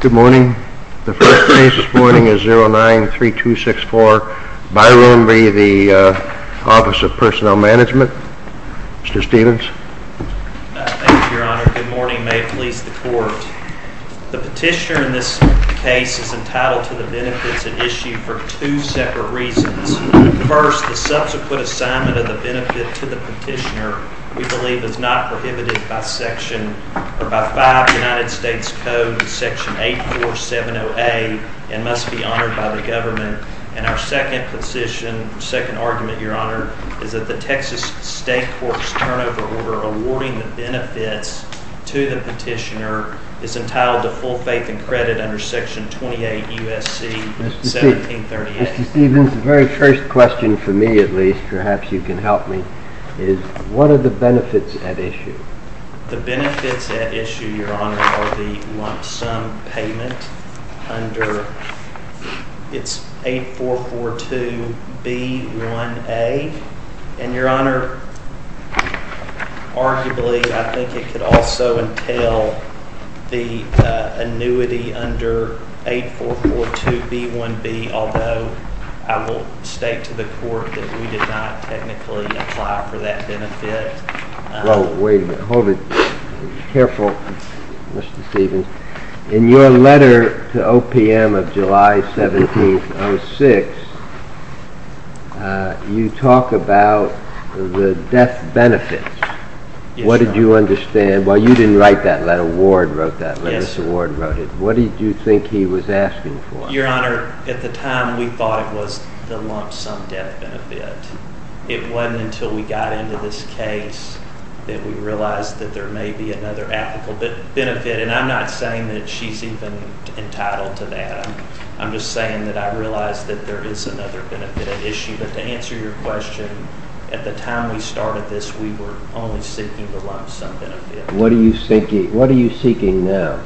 Good morning. The first case this morning is 09-3264 Byrum v. the Office of Personnel Management. Mr. Stevens. Thank you, Your Honor. Good morning. May it please the Court. The petitioner in this case is entitled to the benefits at issue for two separate reasons. First, the subsequent assignment of the benefit to the petitioner, we believe, is not prohibited by five United States Codes, section 8470A, and must be honored by the government. And our second position, second argument, Your Honor, is that the Texas State Courts turnover order awarding the benefits to the petitioner is entitled to full faith and credit under section 28 U.S.C. 1738. Mr. Stevens, the very first question, for me at least, perhaps you can help me, is what are the benefits at issue? The benefits at issue, Your Honor, are the lump sum payment under, it's 8442B1A, and Your Honor, arguably, I think it could also entail the annuity under 8442B1B, although I will state to the Court that we did not technically apply for that benefit. Well, wait a minute. Hold it. Careful, Mr. Stevens. In your letter to OPM of July 17, 06, you talk about the death benefits. Yes, Your Honor. What did you understand? Well, you didn't write that letter. Ward wrote that letter. Yes, sir. Ward wrote it. What did you think he was asking for? Your Honor, at the time, we thought it was the lump sum death benefit. It wasn't until we got into this case that we realized that there may be another applicable benefit, and I'm not saying that she's even entitled to that. I'm just saying that I realize that there is another benefit at issue, but to answer your question, at the time we started this, we were only seeking the lump sum benefit. What are you seeking now?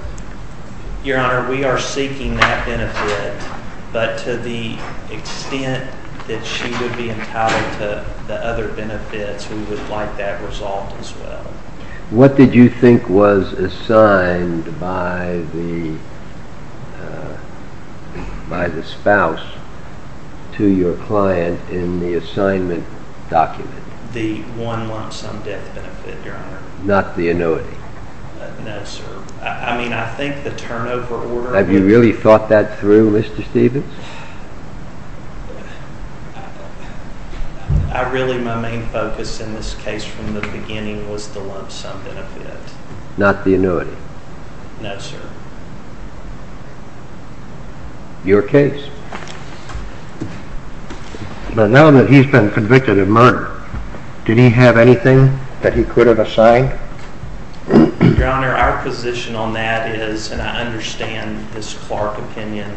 Your Honor, we are seeking that benefit, but to the extent that she would be entitled to the other benefits, we would like that resolved as well. What did you think was assigned by the spouse to your client in the assignment document? The lump sum death benefit, Your Honor. Not the annuity? No, sir. I mean, I think the turnover order... Have you really thought that through, Mr. Stevens? I really, my main focus in this case from the beginning was the lump sum benefit. Not the annuity? No, sir. Your case? But now that he's been convicted of murder, did he have anything that he could have assigned? Your Honor, our position on that is, and I understand this Clark opinion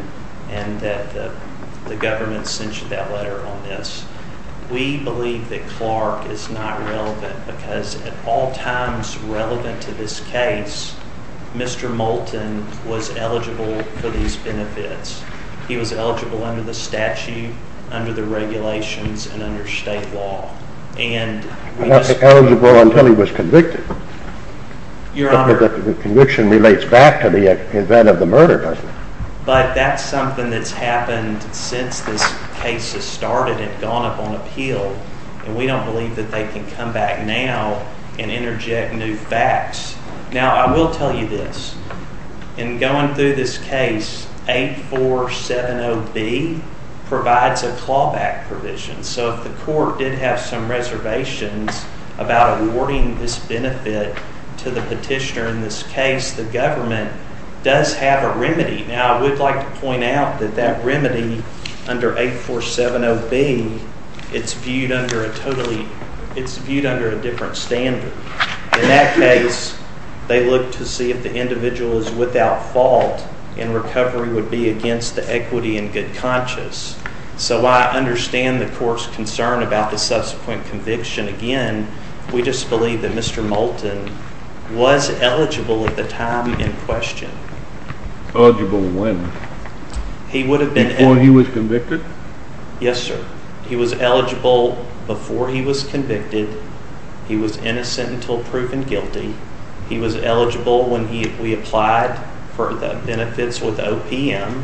and that the government sent you that letter on this, we believe that Clark is not relevant because at all times relevant to this case, Mr. Moulton was eligible for these benefits. He was eligible under the statute, under the regulations, and under state law. He wasn't eligible until he was convicted. Your Honor... The conviction relates back to the event of the murder, doesn't it? But that's something that's happened since this case has started and gone up on appeal, and we don't believe that they can come back now and interject new facts. Now, I will tell you this. In going through this case, 8470B provides a clawback provision. So if the court did have some reservations about awarding this benefit to the petitioner in this case, the government does have a remedy. Now, I would like to point out that that remedy under 8470B, it's viewed under a totally, it's viewed under a different standard. In that case, they look to see if the individual is without fault and recovery would be against the equity and good conscience. So I understand the court's concern about the subsequent conviction. Again, we just believe that Mr. Moulton was eligible at the time in question. Eligible when? He would have been... Before he was convicted? Yes, sir. He was eligible before he was convicted. He was innocent until proven guilty. He was eligible when we applied for the benefits with OPM.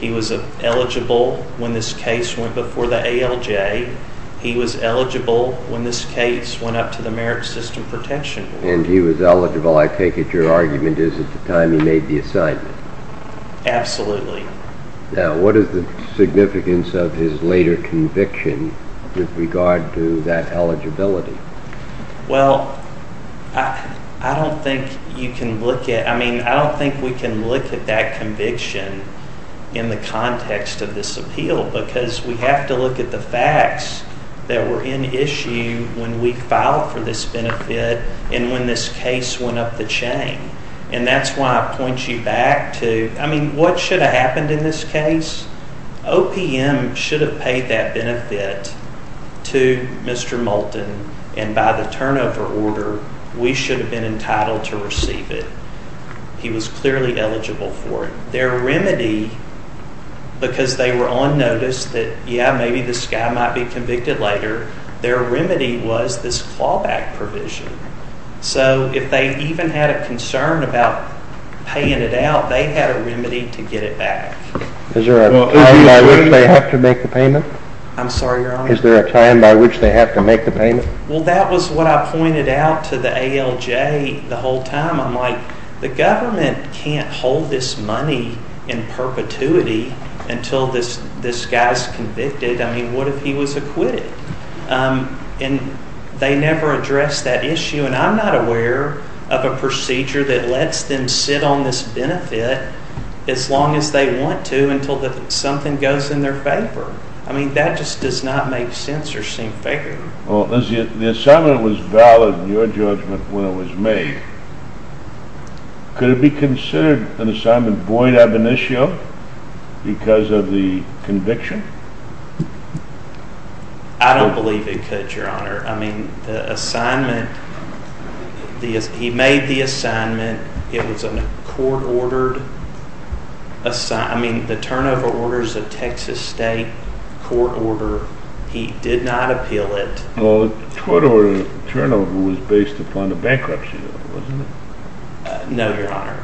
He was eligible when this case went before the ALJ. He was eligible when this case went up to the Merit System Protection Board. And he was eligible, I take it your argument, is at the time he made the assignment? Absolutely. Now, what is the significance of his later conviction with regard to that eligibility? Well, I don't think you can look at, I mean, I don't think we can look at that conviction in the context of this appeal because we have to look at the facts that were in issue when we filed for this benefit and when this case went up the chain. And that's why I point you back to, I mean, what should have happened in this case? OPM should have paid that benefit to Mr. Moulton. And by the turnover order, we should have been entitled to receive it. He was clearly eligible for it. Their remedy, because they were on notice that, yeah, maybe this guy might be convicted later, their remedy was this clawback provision. So if they even had a concern about paying it out, they had a remedy to get it back. Is there a time by which they have to make the payment? I'm sorry, Your Honor? Is there a time by which they have to make the payment? Well, that was what I pointed out to the ALJ the whole time. I'm like, the government can't hold this money in perpetuity until this guy's convicted. I mean, what if he was acquitted? And they never addressed that issue. And I'm not aware of a procedure that lets them sit on this benefit as long as they want to until something goes in their favor. I mean, that just does not make sense or seem fair. Well, the assignment was valid in your judgment when it was made. Could it be considered an assignment void ab initio because of the conviction? I don't believe it could, Your Honor. I mean, the assignment, he made the assignment. It was a court-ordered assignment. I mean, the turnover order is a Texas state court order. He did not appeal it. Well, the turnover was based upon the bankruptcy, wasn't it? No, Your Honor.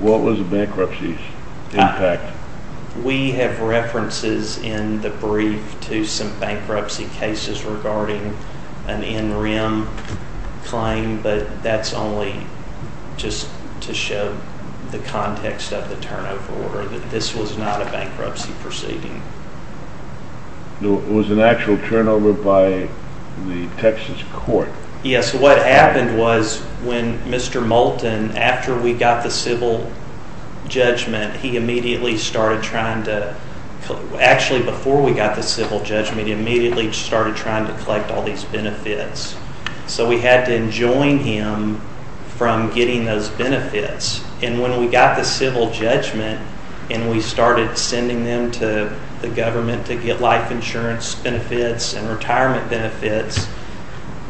What was the bankruptcy's impact? We have references in the brief to some bankruptcy cases regarding an NREM claim, but that's only just to show the context of the turnover order, that this was not a bankruptcy proceeding. It was an actual turnover by the Texas court. Yes, what happened was when Mr. Moulton, after we got the civil judgment, he immediately started trying to collect all these benefits. So we had to enjoin him from getting those benefits. And when we got the civil judgment and we started sending them to the government to get life insurance benefits and retirement benefits,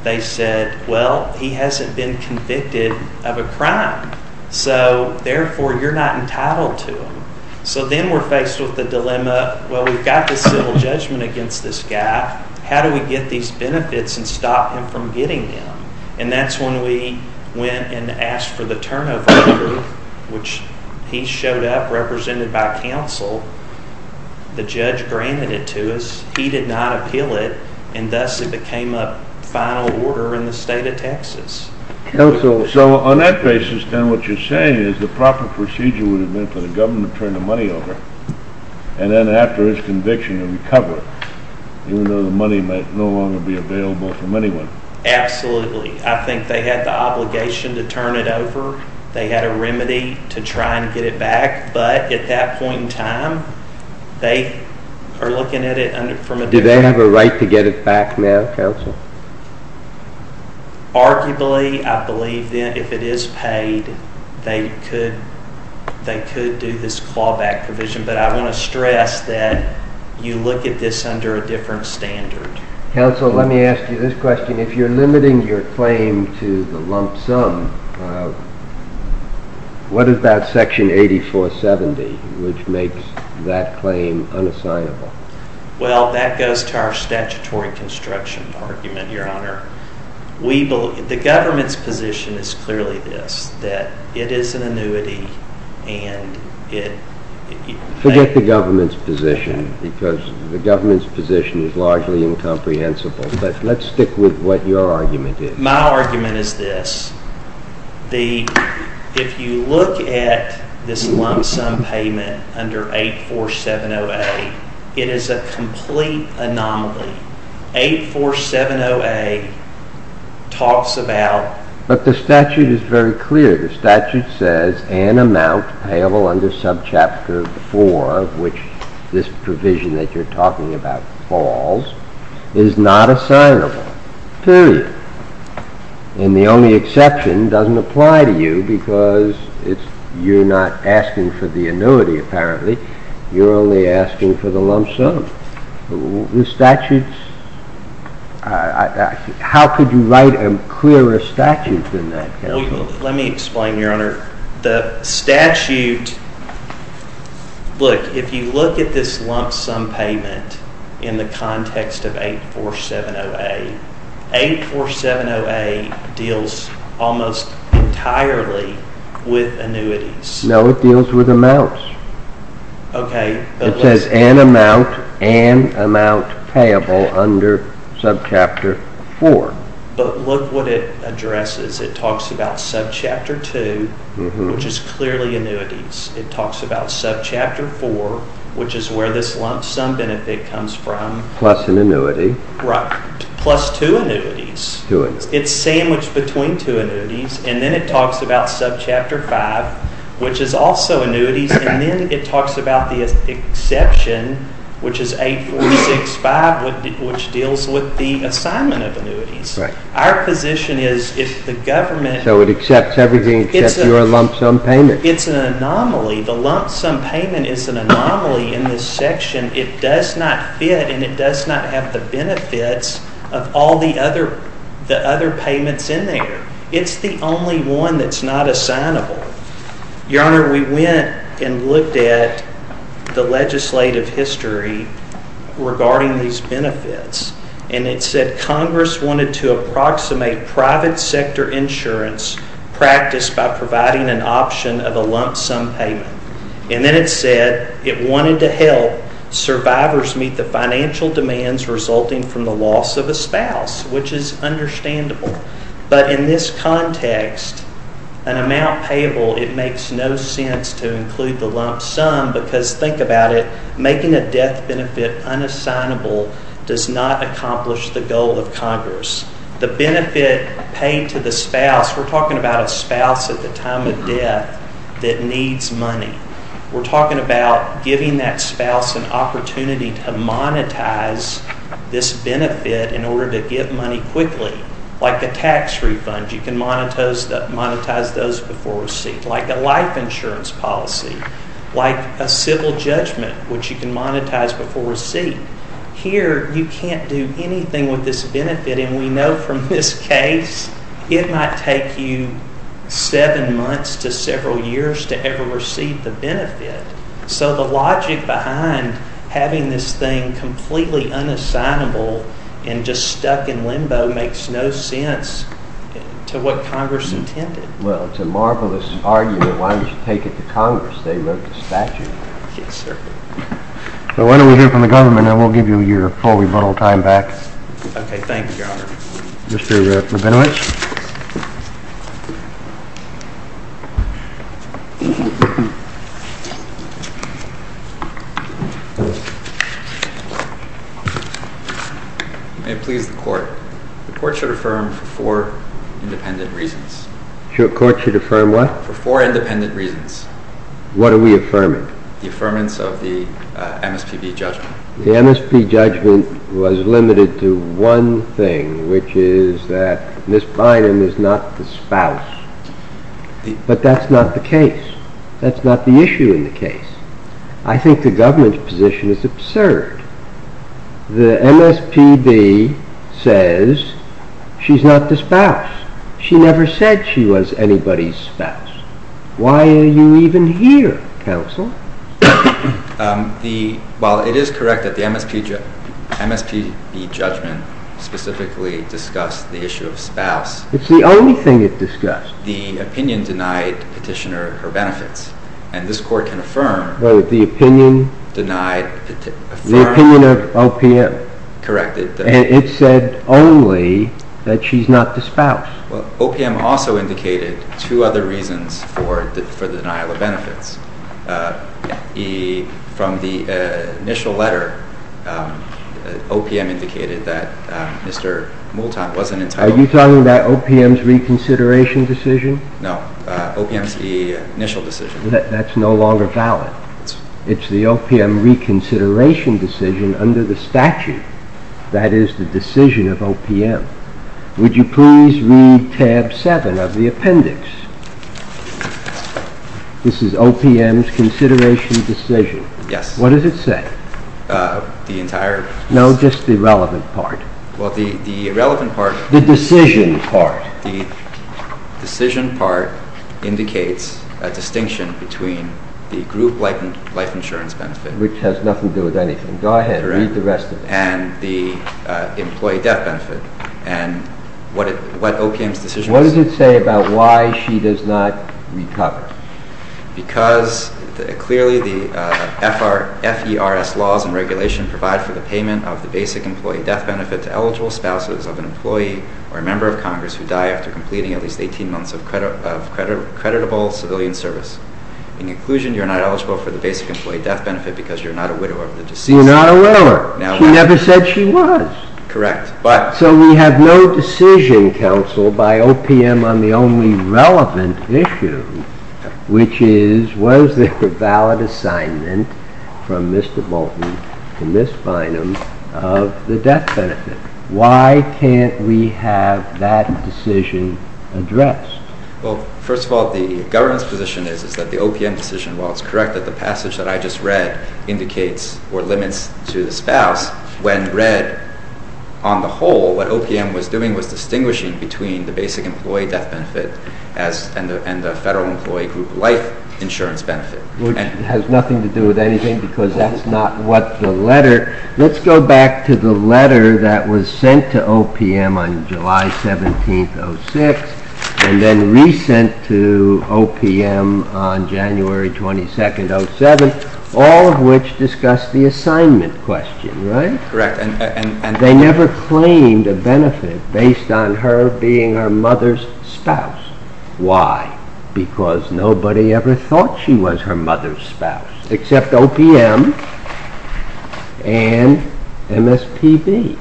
they said, well, he hasn't been convicted of a crime. So, therefore, you're not entitled to them. So then we're faced with the dilemma, well, we've got the civil judgment against this guy. How do we get these benefits and stop him from getting them? And that's when we went and asked for the turnover order, which he showed up, represented by counsel. The judge granted it to us. He did not appeal it, and thus it became a final order in the state of Texas. Counsel, so on that basis then what you're saying is the proper procedure would have been for the government to turn the money over and then after his conviction to recover it, even though the money might no longer be available from anyone. Absolutely. I think they had the obligation to turn it over. They had a remedy to try and get it back. But at that point in time, they are looking at it from a different angle. Do they have a right to get it back now, counsel? Arguably, I believe that if it is paid, they could do this clawback provision. But I want to stress that you look at this under a different standard. Counsel, let me ask you this question. If you're limiting your claim to the lump sum, what about Section 8470, which makes that claim unassignable? Well, that goes to our statutory construction argument, Your Honor. The government's position is clearly this, that it is an annuity and it… Forget the government's position, because the government's position is largely incomprehensible. But let's stick with what your argument is. My argument is this. If you look at this lump sum payment under 8470A, it is a complete anomaly. 8470A talks about… But the statute is very clear. The statute says an amount payable under subchapter 4, which this provision that you're talking about falls, is not assignable, period. And the only exception doesn't apply to you because you're not asking for the annuity, apparently. You're only asking for the lump sum. The statute… How could you write a clearer statute than that, Counsel? Let me explain, Your Honor. The statute… Look, if you look at this lump sum payment in the context of 8470A, 8470A deals almost entirely with annuities. No, it deals with amounts. Okay, but… It says an amount and amount payable under subchapter 4. But look what it addresses. It talks about subchapter 2, which is clearly annuities. It talks about subchapter 4, which is where this lump sum benefit comes from. Plus an annuity. Right. Plus two annuities. Two annuities. It's sandwiched between two annuities. And then it talks about subchapter 5, which is also annuities. And then it talks about the exception, which is 8465, which deals with the assignment of annuities. Right. Our position is if the government… So it accepts everything except your lump sum payment. It's an anomaly. The lump sum payment is an anomaly in this section. It does not fit and it does not have the benefits of all the other payments in there. It's the only one that's not assignable. Your Honor, we went and looked at the legislative history regarding these benefits. And it said Congress wanted to approximate private sector insurance practice by providing an option of a lump sum payment. And then it said it wanted to help survivors meet the financial demands resulting from the loss of a spouse, which is understandable. But in this context, an amount payable, it makes no sense to include the lump sum because, think about it, making a death benefit unassignable does not accomplish the goal of Congress. The benefit paid to the spouse, we're talking about a spouse at the time of death that needs money. We're talking about giving that spouse an opportunity to monetize this benefit in order to get money quickly. Like a tax refund, you can monetize those before receipt. Like a life insurance policy. Like a civil judgment, which you can monetize before receipt. Here, you can't do anything with this benefit. And we know from this case, it might take you seven months to several years to ever receive the benefit. So the logic behind having this thing completely unassignable and just stuck in limbo makes no sense to what Congress intended. Well, it's a marvelous argument. Why don't you take it to Congress? They wrote the statute. Yes, sir. So why don't we hear from the government, and we'll give you your full rebuttal time back. Okay, thank you, Your Honor. Mr. Rabinowitz? You may please the court. The court should affirm for four independent reasons. The court should affirm what? For four independent reasons. What are we affirming? The affirmance of the MSPB judgment. The MSPB judgment was limited to one thing, which is that Ms. Bynum is not the spouse. But that's not the case. That's not the issue in the case. I think the government's position is absurd. The MSPB says she's not the spouse. She never said she was anybody's spouse. Why are you even here, counsel? Well, it is correct that the MSPB judgment specifically discussed the issue of spouse. It's the only thing it discussed. The opinion denied petitioner her benefits. And this court can affirm. The opinion of OPM? Correct. And it said only that she's not the spouse. Well, OPM also indicated two other reasons for the denial of benefits. From the initial letter, OPM indicated that Mr. Moulton wasn't entitled. Are you talking about OPM's reconsideration decision? No, OPM's initial decision. That's no longer valid. It's the OPM reconsideration decision under the statute that is the decision of OPM. Would you please read tab 7 of the appendix? This is OPM's consideration decision. Yes. What does it say? The entire... No, just the relevant part. Well, the relevant part... The decision part. The decision part indicates a distinction between the group life insurance benefit... Which has nothing to do with anything. Go ahead, read the rest of it. ...and the employee death benefit and what OPM's decision... What does it say about why she does not recover? Because clearly the FERS laws and regulation provide for the payment of the basic employee death benefit to eligible spouses of an employee or a member of Congress who die after completing at least 18 months of creditable civilian service. In conclusion, you're not eligible for the basic employee death benefit because you're not a widow of the deceased. You're not a widow. Sure. She never said she was. Correct, but... So we have no decision, counsel, by OPM on the only relevant issue, which is, was there a valid assignment from Mr. Bolton and Ms. Bynum of the death benefit? Why can't we have that decision addressed? Well, first of all, the governance position is that the OPM decision, while it's correct that the passage that I just read indicates or limits to the spouse, when read on the whole, what OPM was doing was distinguishing between the basic employee death benefit and the federal employee group life insurance benefit. Which has nothing to do with anything because that's not what the letter... Let's go back to the letter that was sent to OPM on July 17th, 06, and then re-sent to OPM on January 22nd, 07, all of which discussed the assignment question, right? Correct. And they never claimed a benefit based on her being her mother's spouse. Why? Because nobody ever thought she was her mother's spouse, except OPM and MSPB.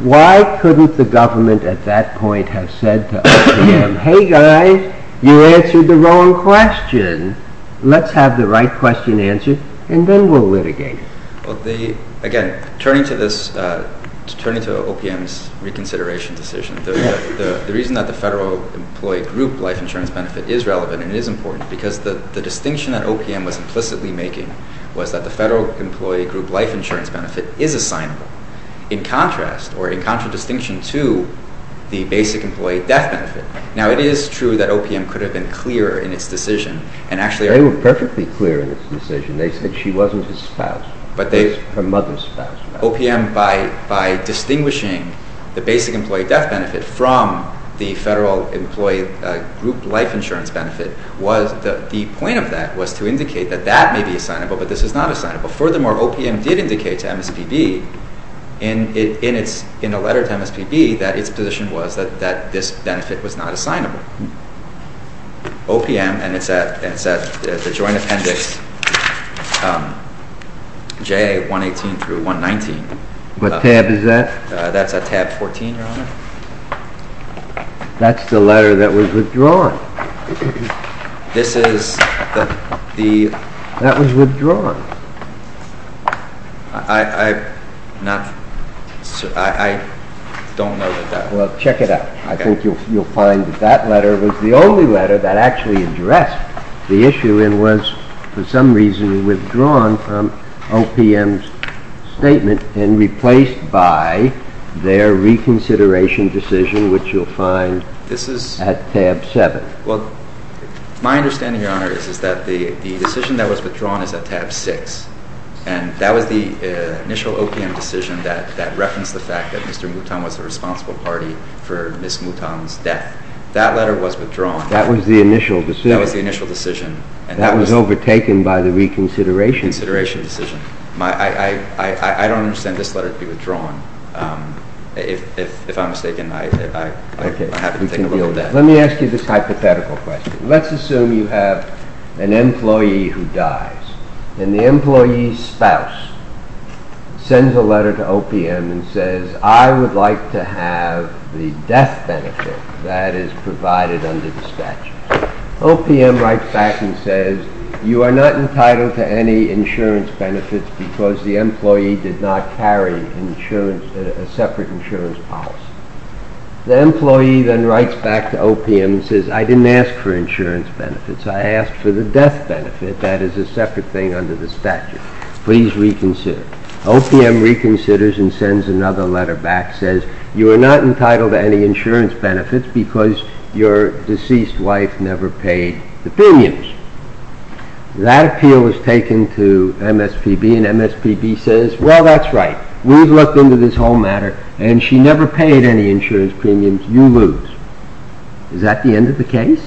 Why couldn't the government at that point have said to OPM, hey guys, you answered the wrong question. Let's have the right question answered and then we'll litigate. Again, turning to OPM's reconsideration decision, the reason that the federal employee group life insurance benefit is relevant and is important because the distinction that OPM was implicitly making was that the federal employee group life insurance benefit is assignable in contrast or in contradistinction to the basic employee death benefit. Now, it is true that OPM could have been clearer in its decision and actually... OPM, by distinguishing the basic employee death benefit from the federal employee group life insurance benefit, the point of that was to indicate that that may be assignable, but this is not assignable. Furthermore, OPM did indicate to MSPB in a letter to MSPB that its position was that this benefit was not assignable. OPM, and it's at the Joint Appendix JA 118-119. What tab is that? That's at tab 14, Your Honor. That's the letter that was withdrawn. This is the... I don't know that that was... Well, check it out. I think you'll find that that letter was the only letter that actually addressed the issue and was, for some reason, withdrawn from OPM's statement and replaced by their reconsideration decision, which you'll find at tab 7. Well, my understanding, Your Honor, is that the decision that was withdrawn is at tab 6, and that was the initial OPM decision that referenced the fact that Mr. Mouton was the responsible party for Ms. Mouton's death. That letter was withdrawn. That was the initial decision. That was the initial decision. That was overtaken by the reconsideration. Reconsideration decision. I don't understand this letter to be withdrawn. If I'm mistaken, I have to take a look at that. Let me ask you this hypothetical question. Let's assume you have an employee who dies, and the employee's spouse sends a letter to OPM and says, I would like to have the death benefit that is provided under the statute. OPM writes back and says, You are not entitled to any insurance benefits because the employee did not carry a separate insurance policy. The employee then writes back to OPM and says, I didn't ask for insurance benefits. I asked for the death benefit that is a separate thing under the statute. Please reconsider. OPM reconsiders and sends another letter back and says, You are not entitled to any insurance benefits because your deceased wife never paid the premiums. That appeal was taken to MSPB, and MSPB says, Well, that's right. We've looked into this whole matter, and she never paid any insurance premiums. You lose. Is that the end of the case?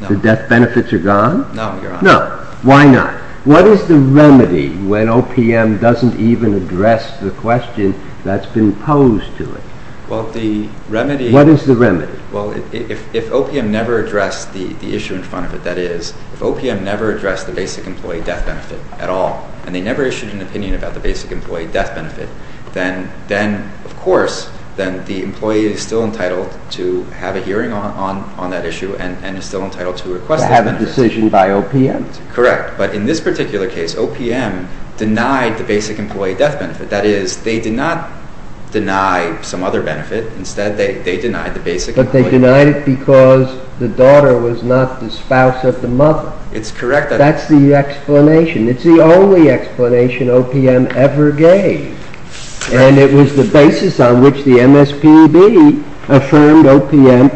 No. The death benefits are gone? No, Your Honor. No. Why not? What is the remedy when OPM doesn't even address the question that's been posed to it? Well, the remedy… What is the remedy? Well, if OPM never addressed the issue in front of it, that is, if OPM never addressed the basic employee death benefit at all, and they never issued an opinion about the basic employee death benefit, then, of course, the employee is still entitled to have a hearing on that issue and is still entitled to request that benefit. To have a decision by OPM? Correct. But in this particular case, OPM denied the basic employee death benefit. That is, they did not deny some other benefit. Instead, they denied the basic employee death benefit. But they denied it because the daughter was not the spouse of the mother. It's correct. That's the explanation. It's the only explanation OPM ever gave. And it was the basis on which the MSPB affirmed OPM.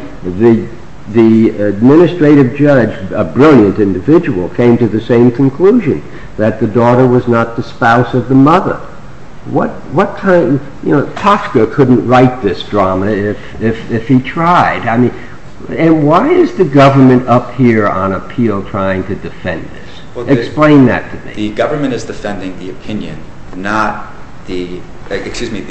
The administrative judge, a brilliant individual, came to the same conclusion, that the daughter was not the spouse of the mother. Tosca couldn't write this drama if he tried. And why is the government up here on appeal trying to defend this? Explain that to me. The government is defending the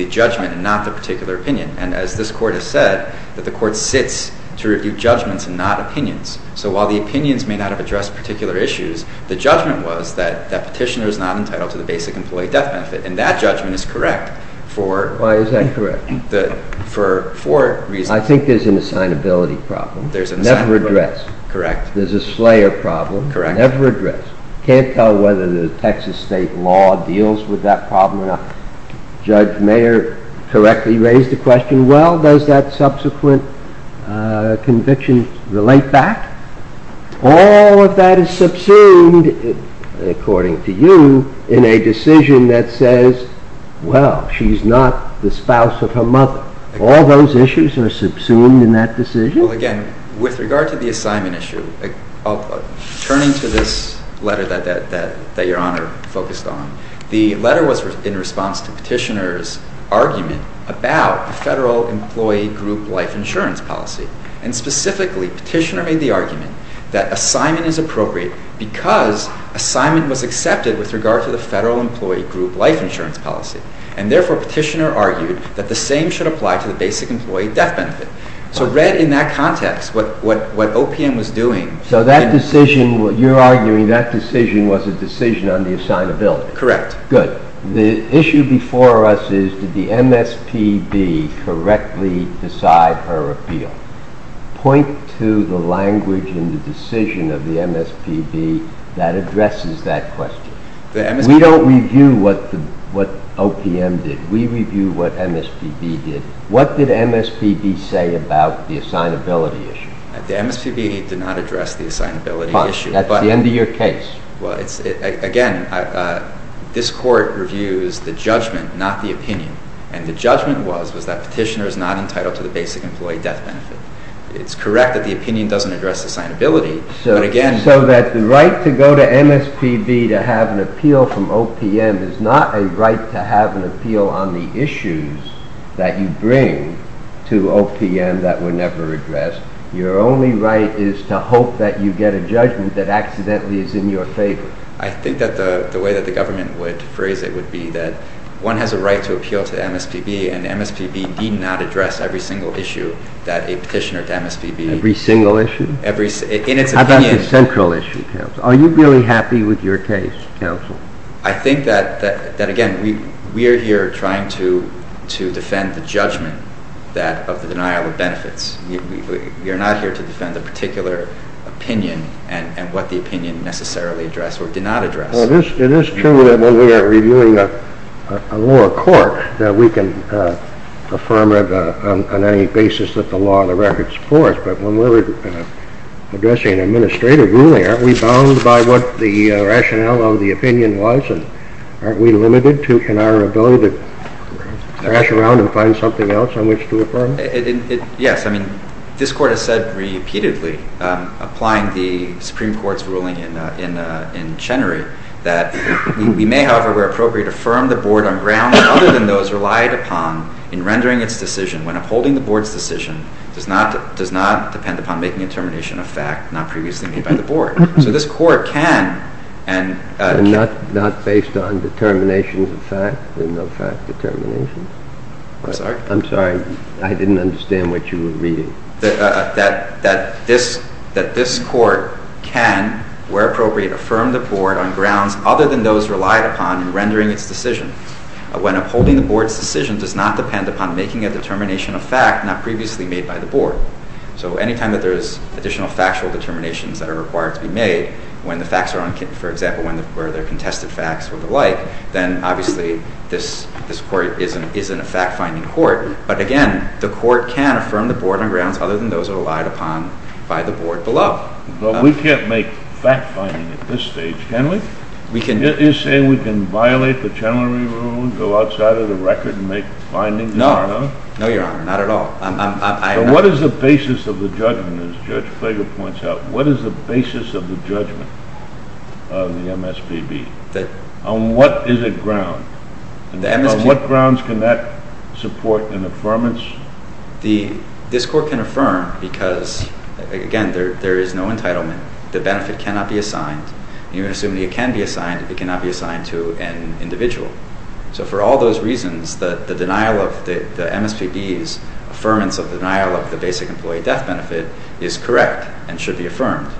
judgment and not the particular opinion. And as this Court has said, that the Court sits to review judgments and not opinions. So while the opinions may not have addressed particular issues, the judgment was that petitioner is not entitled to the basic employee death benefit. And that judgment is correct for… Why is that correct? For four reasons. I think there's an assignability problem. There's an assignability problem. Never addressed. Correct. There's a slayer problem. Correct. Never addressed. Can't tell whether the Texas state law deals with that problem or not. Judge Mayer correctly raised the question, well, does that subsequent conviction relate back? All of that is subsumed, according to you, in a decision that says, well, she's not the spouse of her mother. All those issues are subsumed in that decision? Well, again, with regard to the assignment issue, turning to this letter that Your Honor focused on, the letter was in response to petitioner's argument about the federal employee group life insurance policy. And specifically, petitioner made the argument that assignment is appropriate because assignment was accepted with regard to the federal employee group life insurance policy. And therefore, petitioner argued that the same should apply to the basic employee death benefit. So read in that context what OPM was doing. So that decision, what you're arguing, that decision was a decision on the assignability. Correct. Good. The issue before us is, did the MSPB correctly decide her appeal? Point to the language in the decision of the MSPB that addresses that question. We don't review what OPM did. We review what MSPB did. What did MSPB say about the assignability issue? The MSPB did not address the assignability issue. That's the end of your case. Well, again, this court reviews the judgment, not the opinion. And the judgment was that petitioner is not entitled to the basic employee death benefit. It's correct that the opinion doesn't address assignability, but again... So that the right to go to MSPB to have an appeal from OPM is not a right to have an appeal on the issues that you bring to OPM that were never addressed. Your only right is to hope that you get a judgment that accidentally is in your favor. I think that the way that the government would phrase it would be that one has a right to appeal to MSPB and MSPB did not address every single issue that a petitioner to MSPB... Every single issue? In its opinion... How about the central issue, counsel? Are you really happy with your case, counsel? I think that, again, we are here trying to defend the judgment of the denial of benefits. We are not here to defend the particular opinion and what the opinion necessarily addressed or did not address. Well, it is true that when we are reviewing a lower court that we can affirm it on any basis that the law and the record support, but when we're addressing an administrative ruling, aren't we bound by what the rationale of the opinion was and aren't we limited in our ability to thrash around and find something else on which to affirm? Yes, I mean, this court has said repeatedly, applying the Supreme Court's ruling in Chenery, that we may, however, where appropriate, affirm the board on grounds other than those relied upon in rendering its decision when upholding the board's decision does not depend upon making a termination of fact not previously made by the board. So this court can... Not based on determinations of fact and of fact determinations? I'm sorry? I'm sorry, I didn't understand what you were reading. That this court can, where appropriate, affirm the board on grounds other than those relied upon in rendering its decision when upholding the board's decision does not depend upon making a determination of fact not previously made by the board. So anytime that there is additional factual determinations that are required to be made, when the facts are, for example, when there are contested facts or the like, then obviously this court isn't a fact-finding court. But again, the court can affirm the board on grounds other than those relied upon by the board below. But we can't make fact-finding at this stage, can we? You're saying we can violate the Chenery Rule and go outside of the record and make findings? No. No, Your Honor, not at all. So what is the basis of the judgment, as Judge Flager points out, what is the basis of the judgment of the MSPB? On what is it ground? On what grounds can that support an affirmance? This court can affirm because, again, there is no entitlement. The benefit cannot be assigned. Even assuming it can be assigned, it cannot be assigned to an individual. So for all those reasons, the denial of the MSPB's affirmance of the denial of the basic employee death benefit is correct and should be affirmed.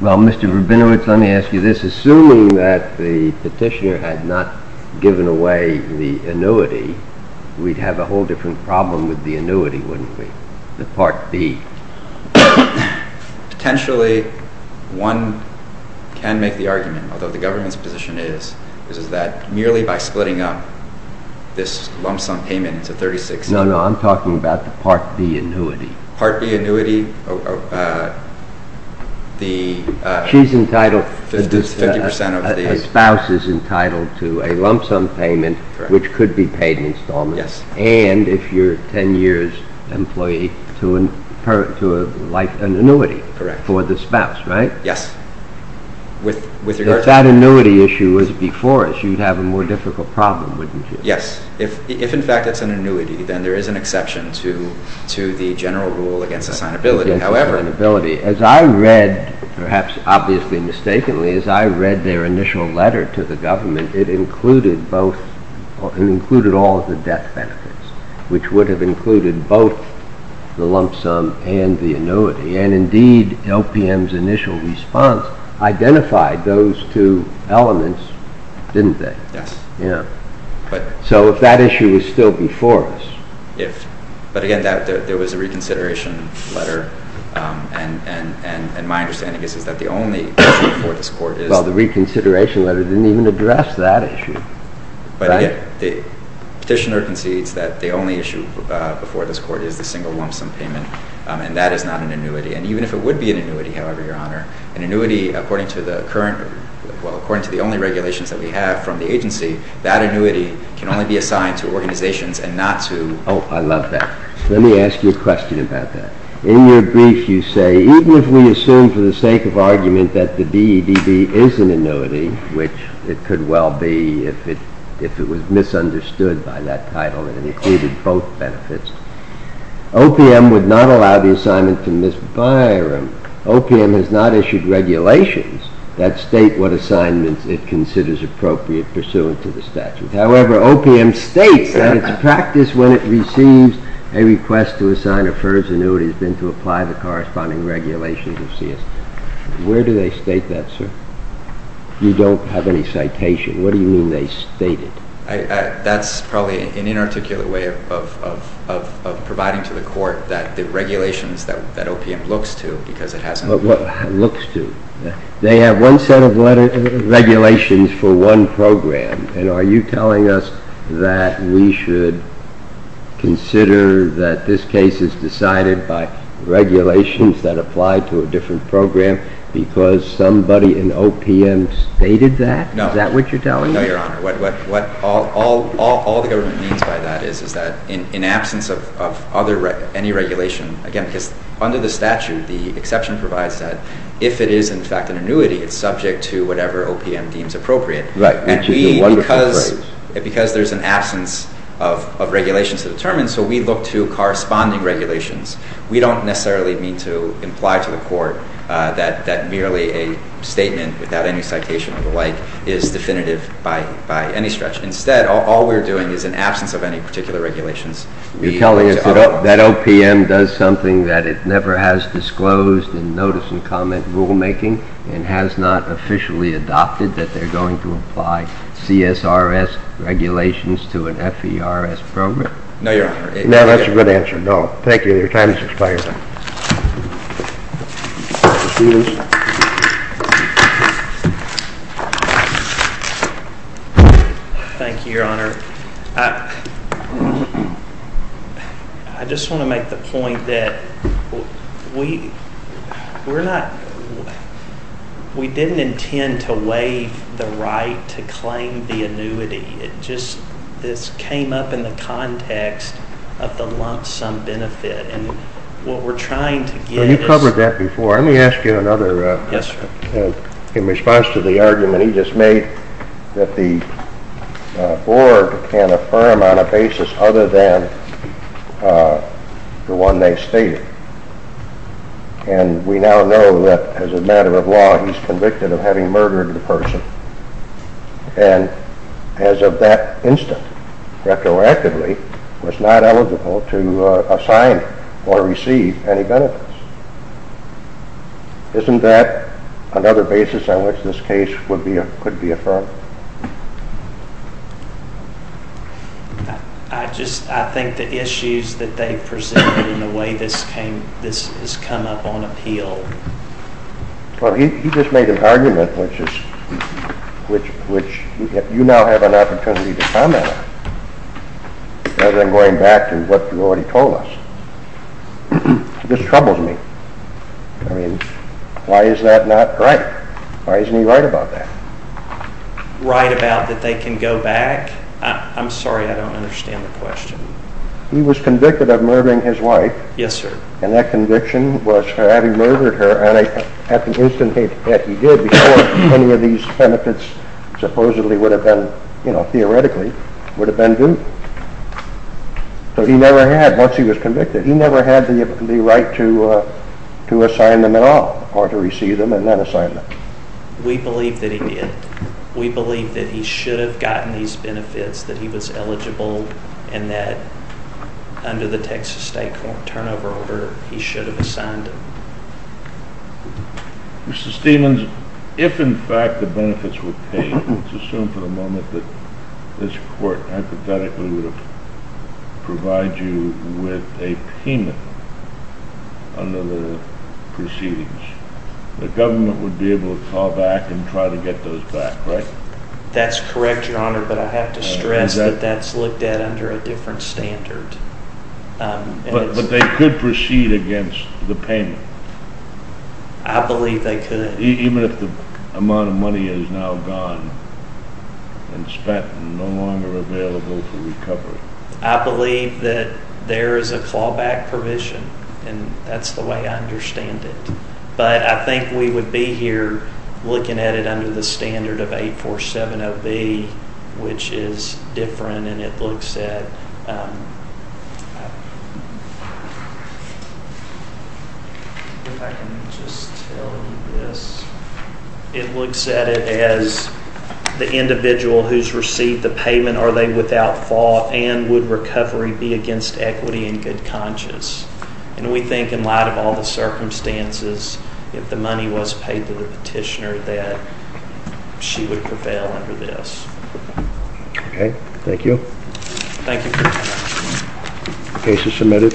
Well, Mr. Rabinowitz, let me ask you this. Assuming that the petitioner had not given away the annuity, we'd have a whole different problem with the annuity, wouldn't we? The Part B. Potentially, one can make the argument, although the government's position is, is that merely by splitting up this lump-sum payment into 36— No, no, I'm talking about the Part B annuity. Part B annuity, the— She's entitled— 50% of the— A spouse is entitled to a lump-sum payment, which could be paid in installments. Yes. And if you're a 10-years employee, to an annuity for the spouse, right? Yes. If that annuity issue was before us, you'd have a more difficult problem, wouldn't you? Yes. If, in fact, it's an annuity, then there is an exception to the general rule against assignability. Against assignability. However— As I read, perhaps obviously mistakenly, as I read their initial letter to the government, it included both—it included all of the death benefits, which would have included both the lump-sum and the annuity. And, indeed, LPM's initial response identified those two elements, didn't they? Yes. Yeah. But— So if that issue was still before us— If—but, again, there was a reconsideration letter, and my understanding is that the only issue before this court is— Well, the reconsideration letter didn't even address that issue. But, again, the petitioner concedes that the only issue before this court is the single lump-sum payment, and that is not an annuity. And even if it would be an annuity, however, Your Honor, an annuity, according to the current—well, according to the only regulations that we have from the agency, that annuity can only be assigned to organizations and not to— Oh, I love that. Let me ask you a question about that. In your brief, you say, even if we assume for the sake of argument that the DEDB is an annuity, which it could well be if it was misunderstood by that title and included both benefits, OPM would not allow the assignment to Ms. Byram. OPM has not issued regulations that state what assignments it considers appropriate pursuant to the statute. However, OPM states that its practice when it receives a request to assign a FERS annuity has been to apply the corresponding regulations of CSB. Where do they state that, sir? You don't have any citation. What do you mean they state it? That's probably an inarticulate way of providing to the court that the regulations that OPM looks to because it has— What looks to? They have one set of regulations for one program, and are you telling us that we should consider that this case is decided by regulations that apply to a different program because somebody in OPM stated that? No. Is that what you're telling me? No, Your Honor. All the government means by that is that in absence of any regulation— again, because under the statute, the exception provides that if it is in fact an annuity, it's subject to whatever OPM deems appropriate. Right, which is a wonderful phrase. Because there's an absence of regulations to determine, so we look to corresponding regulations. We don't necessarily mean to imply to the court that merely a statement without any citation or the like is definitive by any stretch. Instead, all we're doing is in absence of any particular regulations— You're telling us that OPM does something that it never has disclosed in notice and comment rulemaking and has not officially adopted that they're going to apply CSRS regulations to an FERS program? No, Your Honor. No, that's a good answer. No. Thank you. Your time has expired. Thank you, Your Honor. I just want to make the point that we didn't intend to waive the right to claim the annuity. It just came up in the context of the lump sum benefit, and what we're trying to get is— You covered that before. Let me ask you another. Yes, sir. In response to the argument he just made that the board can affirm on a basis other than the one they stated, and we now know that as a matter of law, he's convicted of having murdered the person, and as of that instant, retroactively, was not eligible to assign or receive any benefits. Isn't that another basis on which this case could be affirmed? I think the issues that they've presented and the way this has come up on appeal— Well, he just made an argument which you now have an opportunity to comment on, rather than going back to what you already told us. It just troubles me. I mean, why is that not right? Why isn't he right about that? Right about that they can go back? I'm sorry, I don't understand the question. He was convicted of murdering his wife. Yes, sir. And that conviction was for having murdered her, and at the instant that he did, before any of these benefits supposedly would have been, you know, theoretically, would have been due. But he never had, once he was convicted, he never had the right to assign them at all, or to receive them and then assign them. We believe that he did. We believe that he should have gotten these benefits, that he was eligible, and that under the Texas State Court turnover order, he should have assigned them. Mr. Stephens, if in fact the benefits were paid, let's assume for the moment that this court hypothetically would have provided you with a payment under the proceedings, the government would be able to call back and try to get those back, right? That's correct, Your Honor, but I have to stress that that's looked at under a different standard. But they could proceed against the payment. I believe they could. Even if the amount of money is now gone and spent and no longer available for recovery? I believe that there is a callback provision, and that's the way I understand it. But I think we would be here looking at it under the standard of 8470B, which is different, and it looks at… If I can just tell you this. It looks at it as the individual who's received the payment, are they without fault, and would recovery be against equity and good conscience? And we think in light of all the circumstances, if the money was paid to the petitioner, that she would prevail under this. Okay, thank you. Thank you. Case is submitted.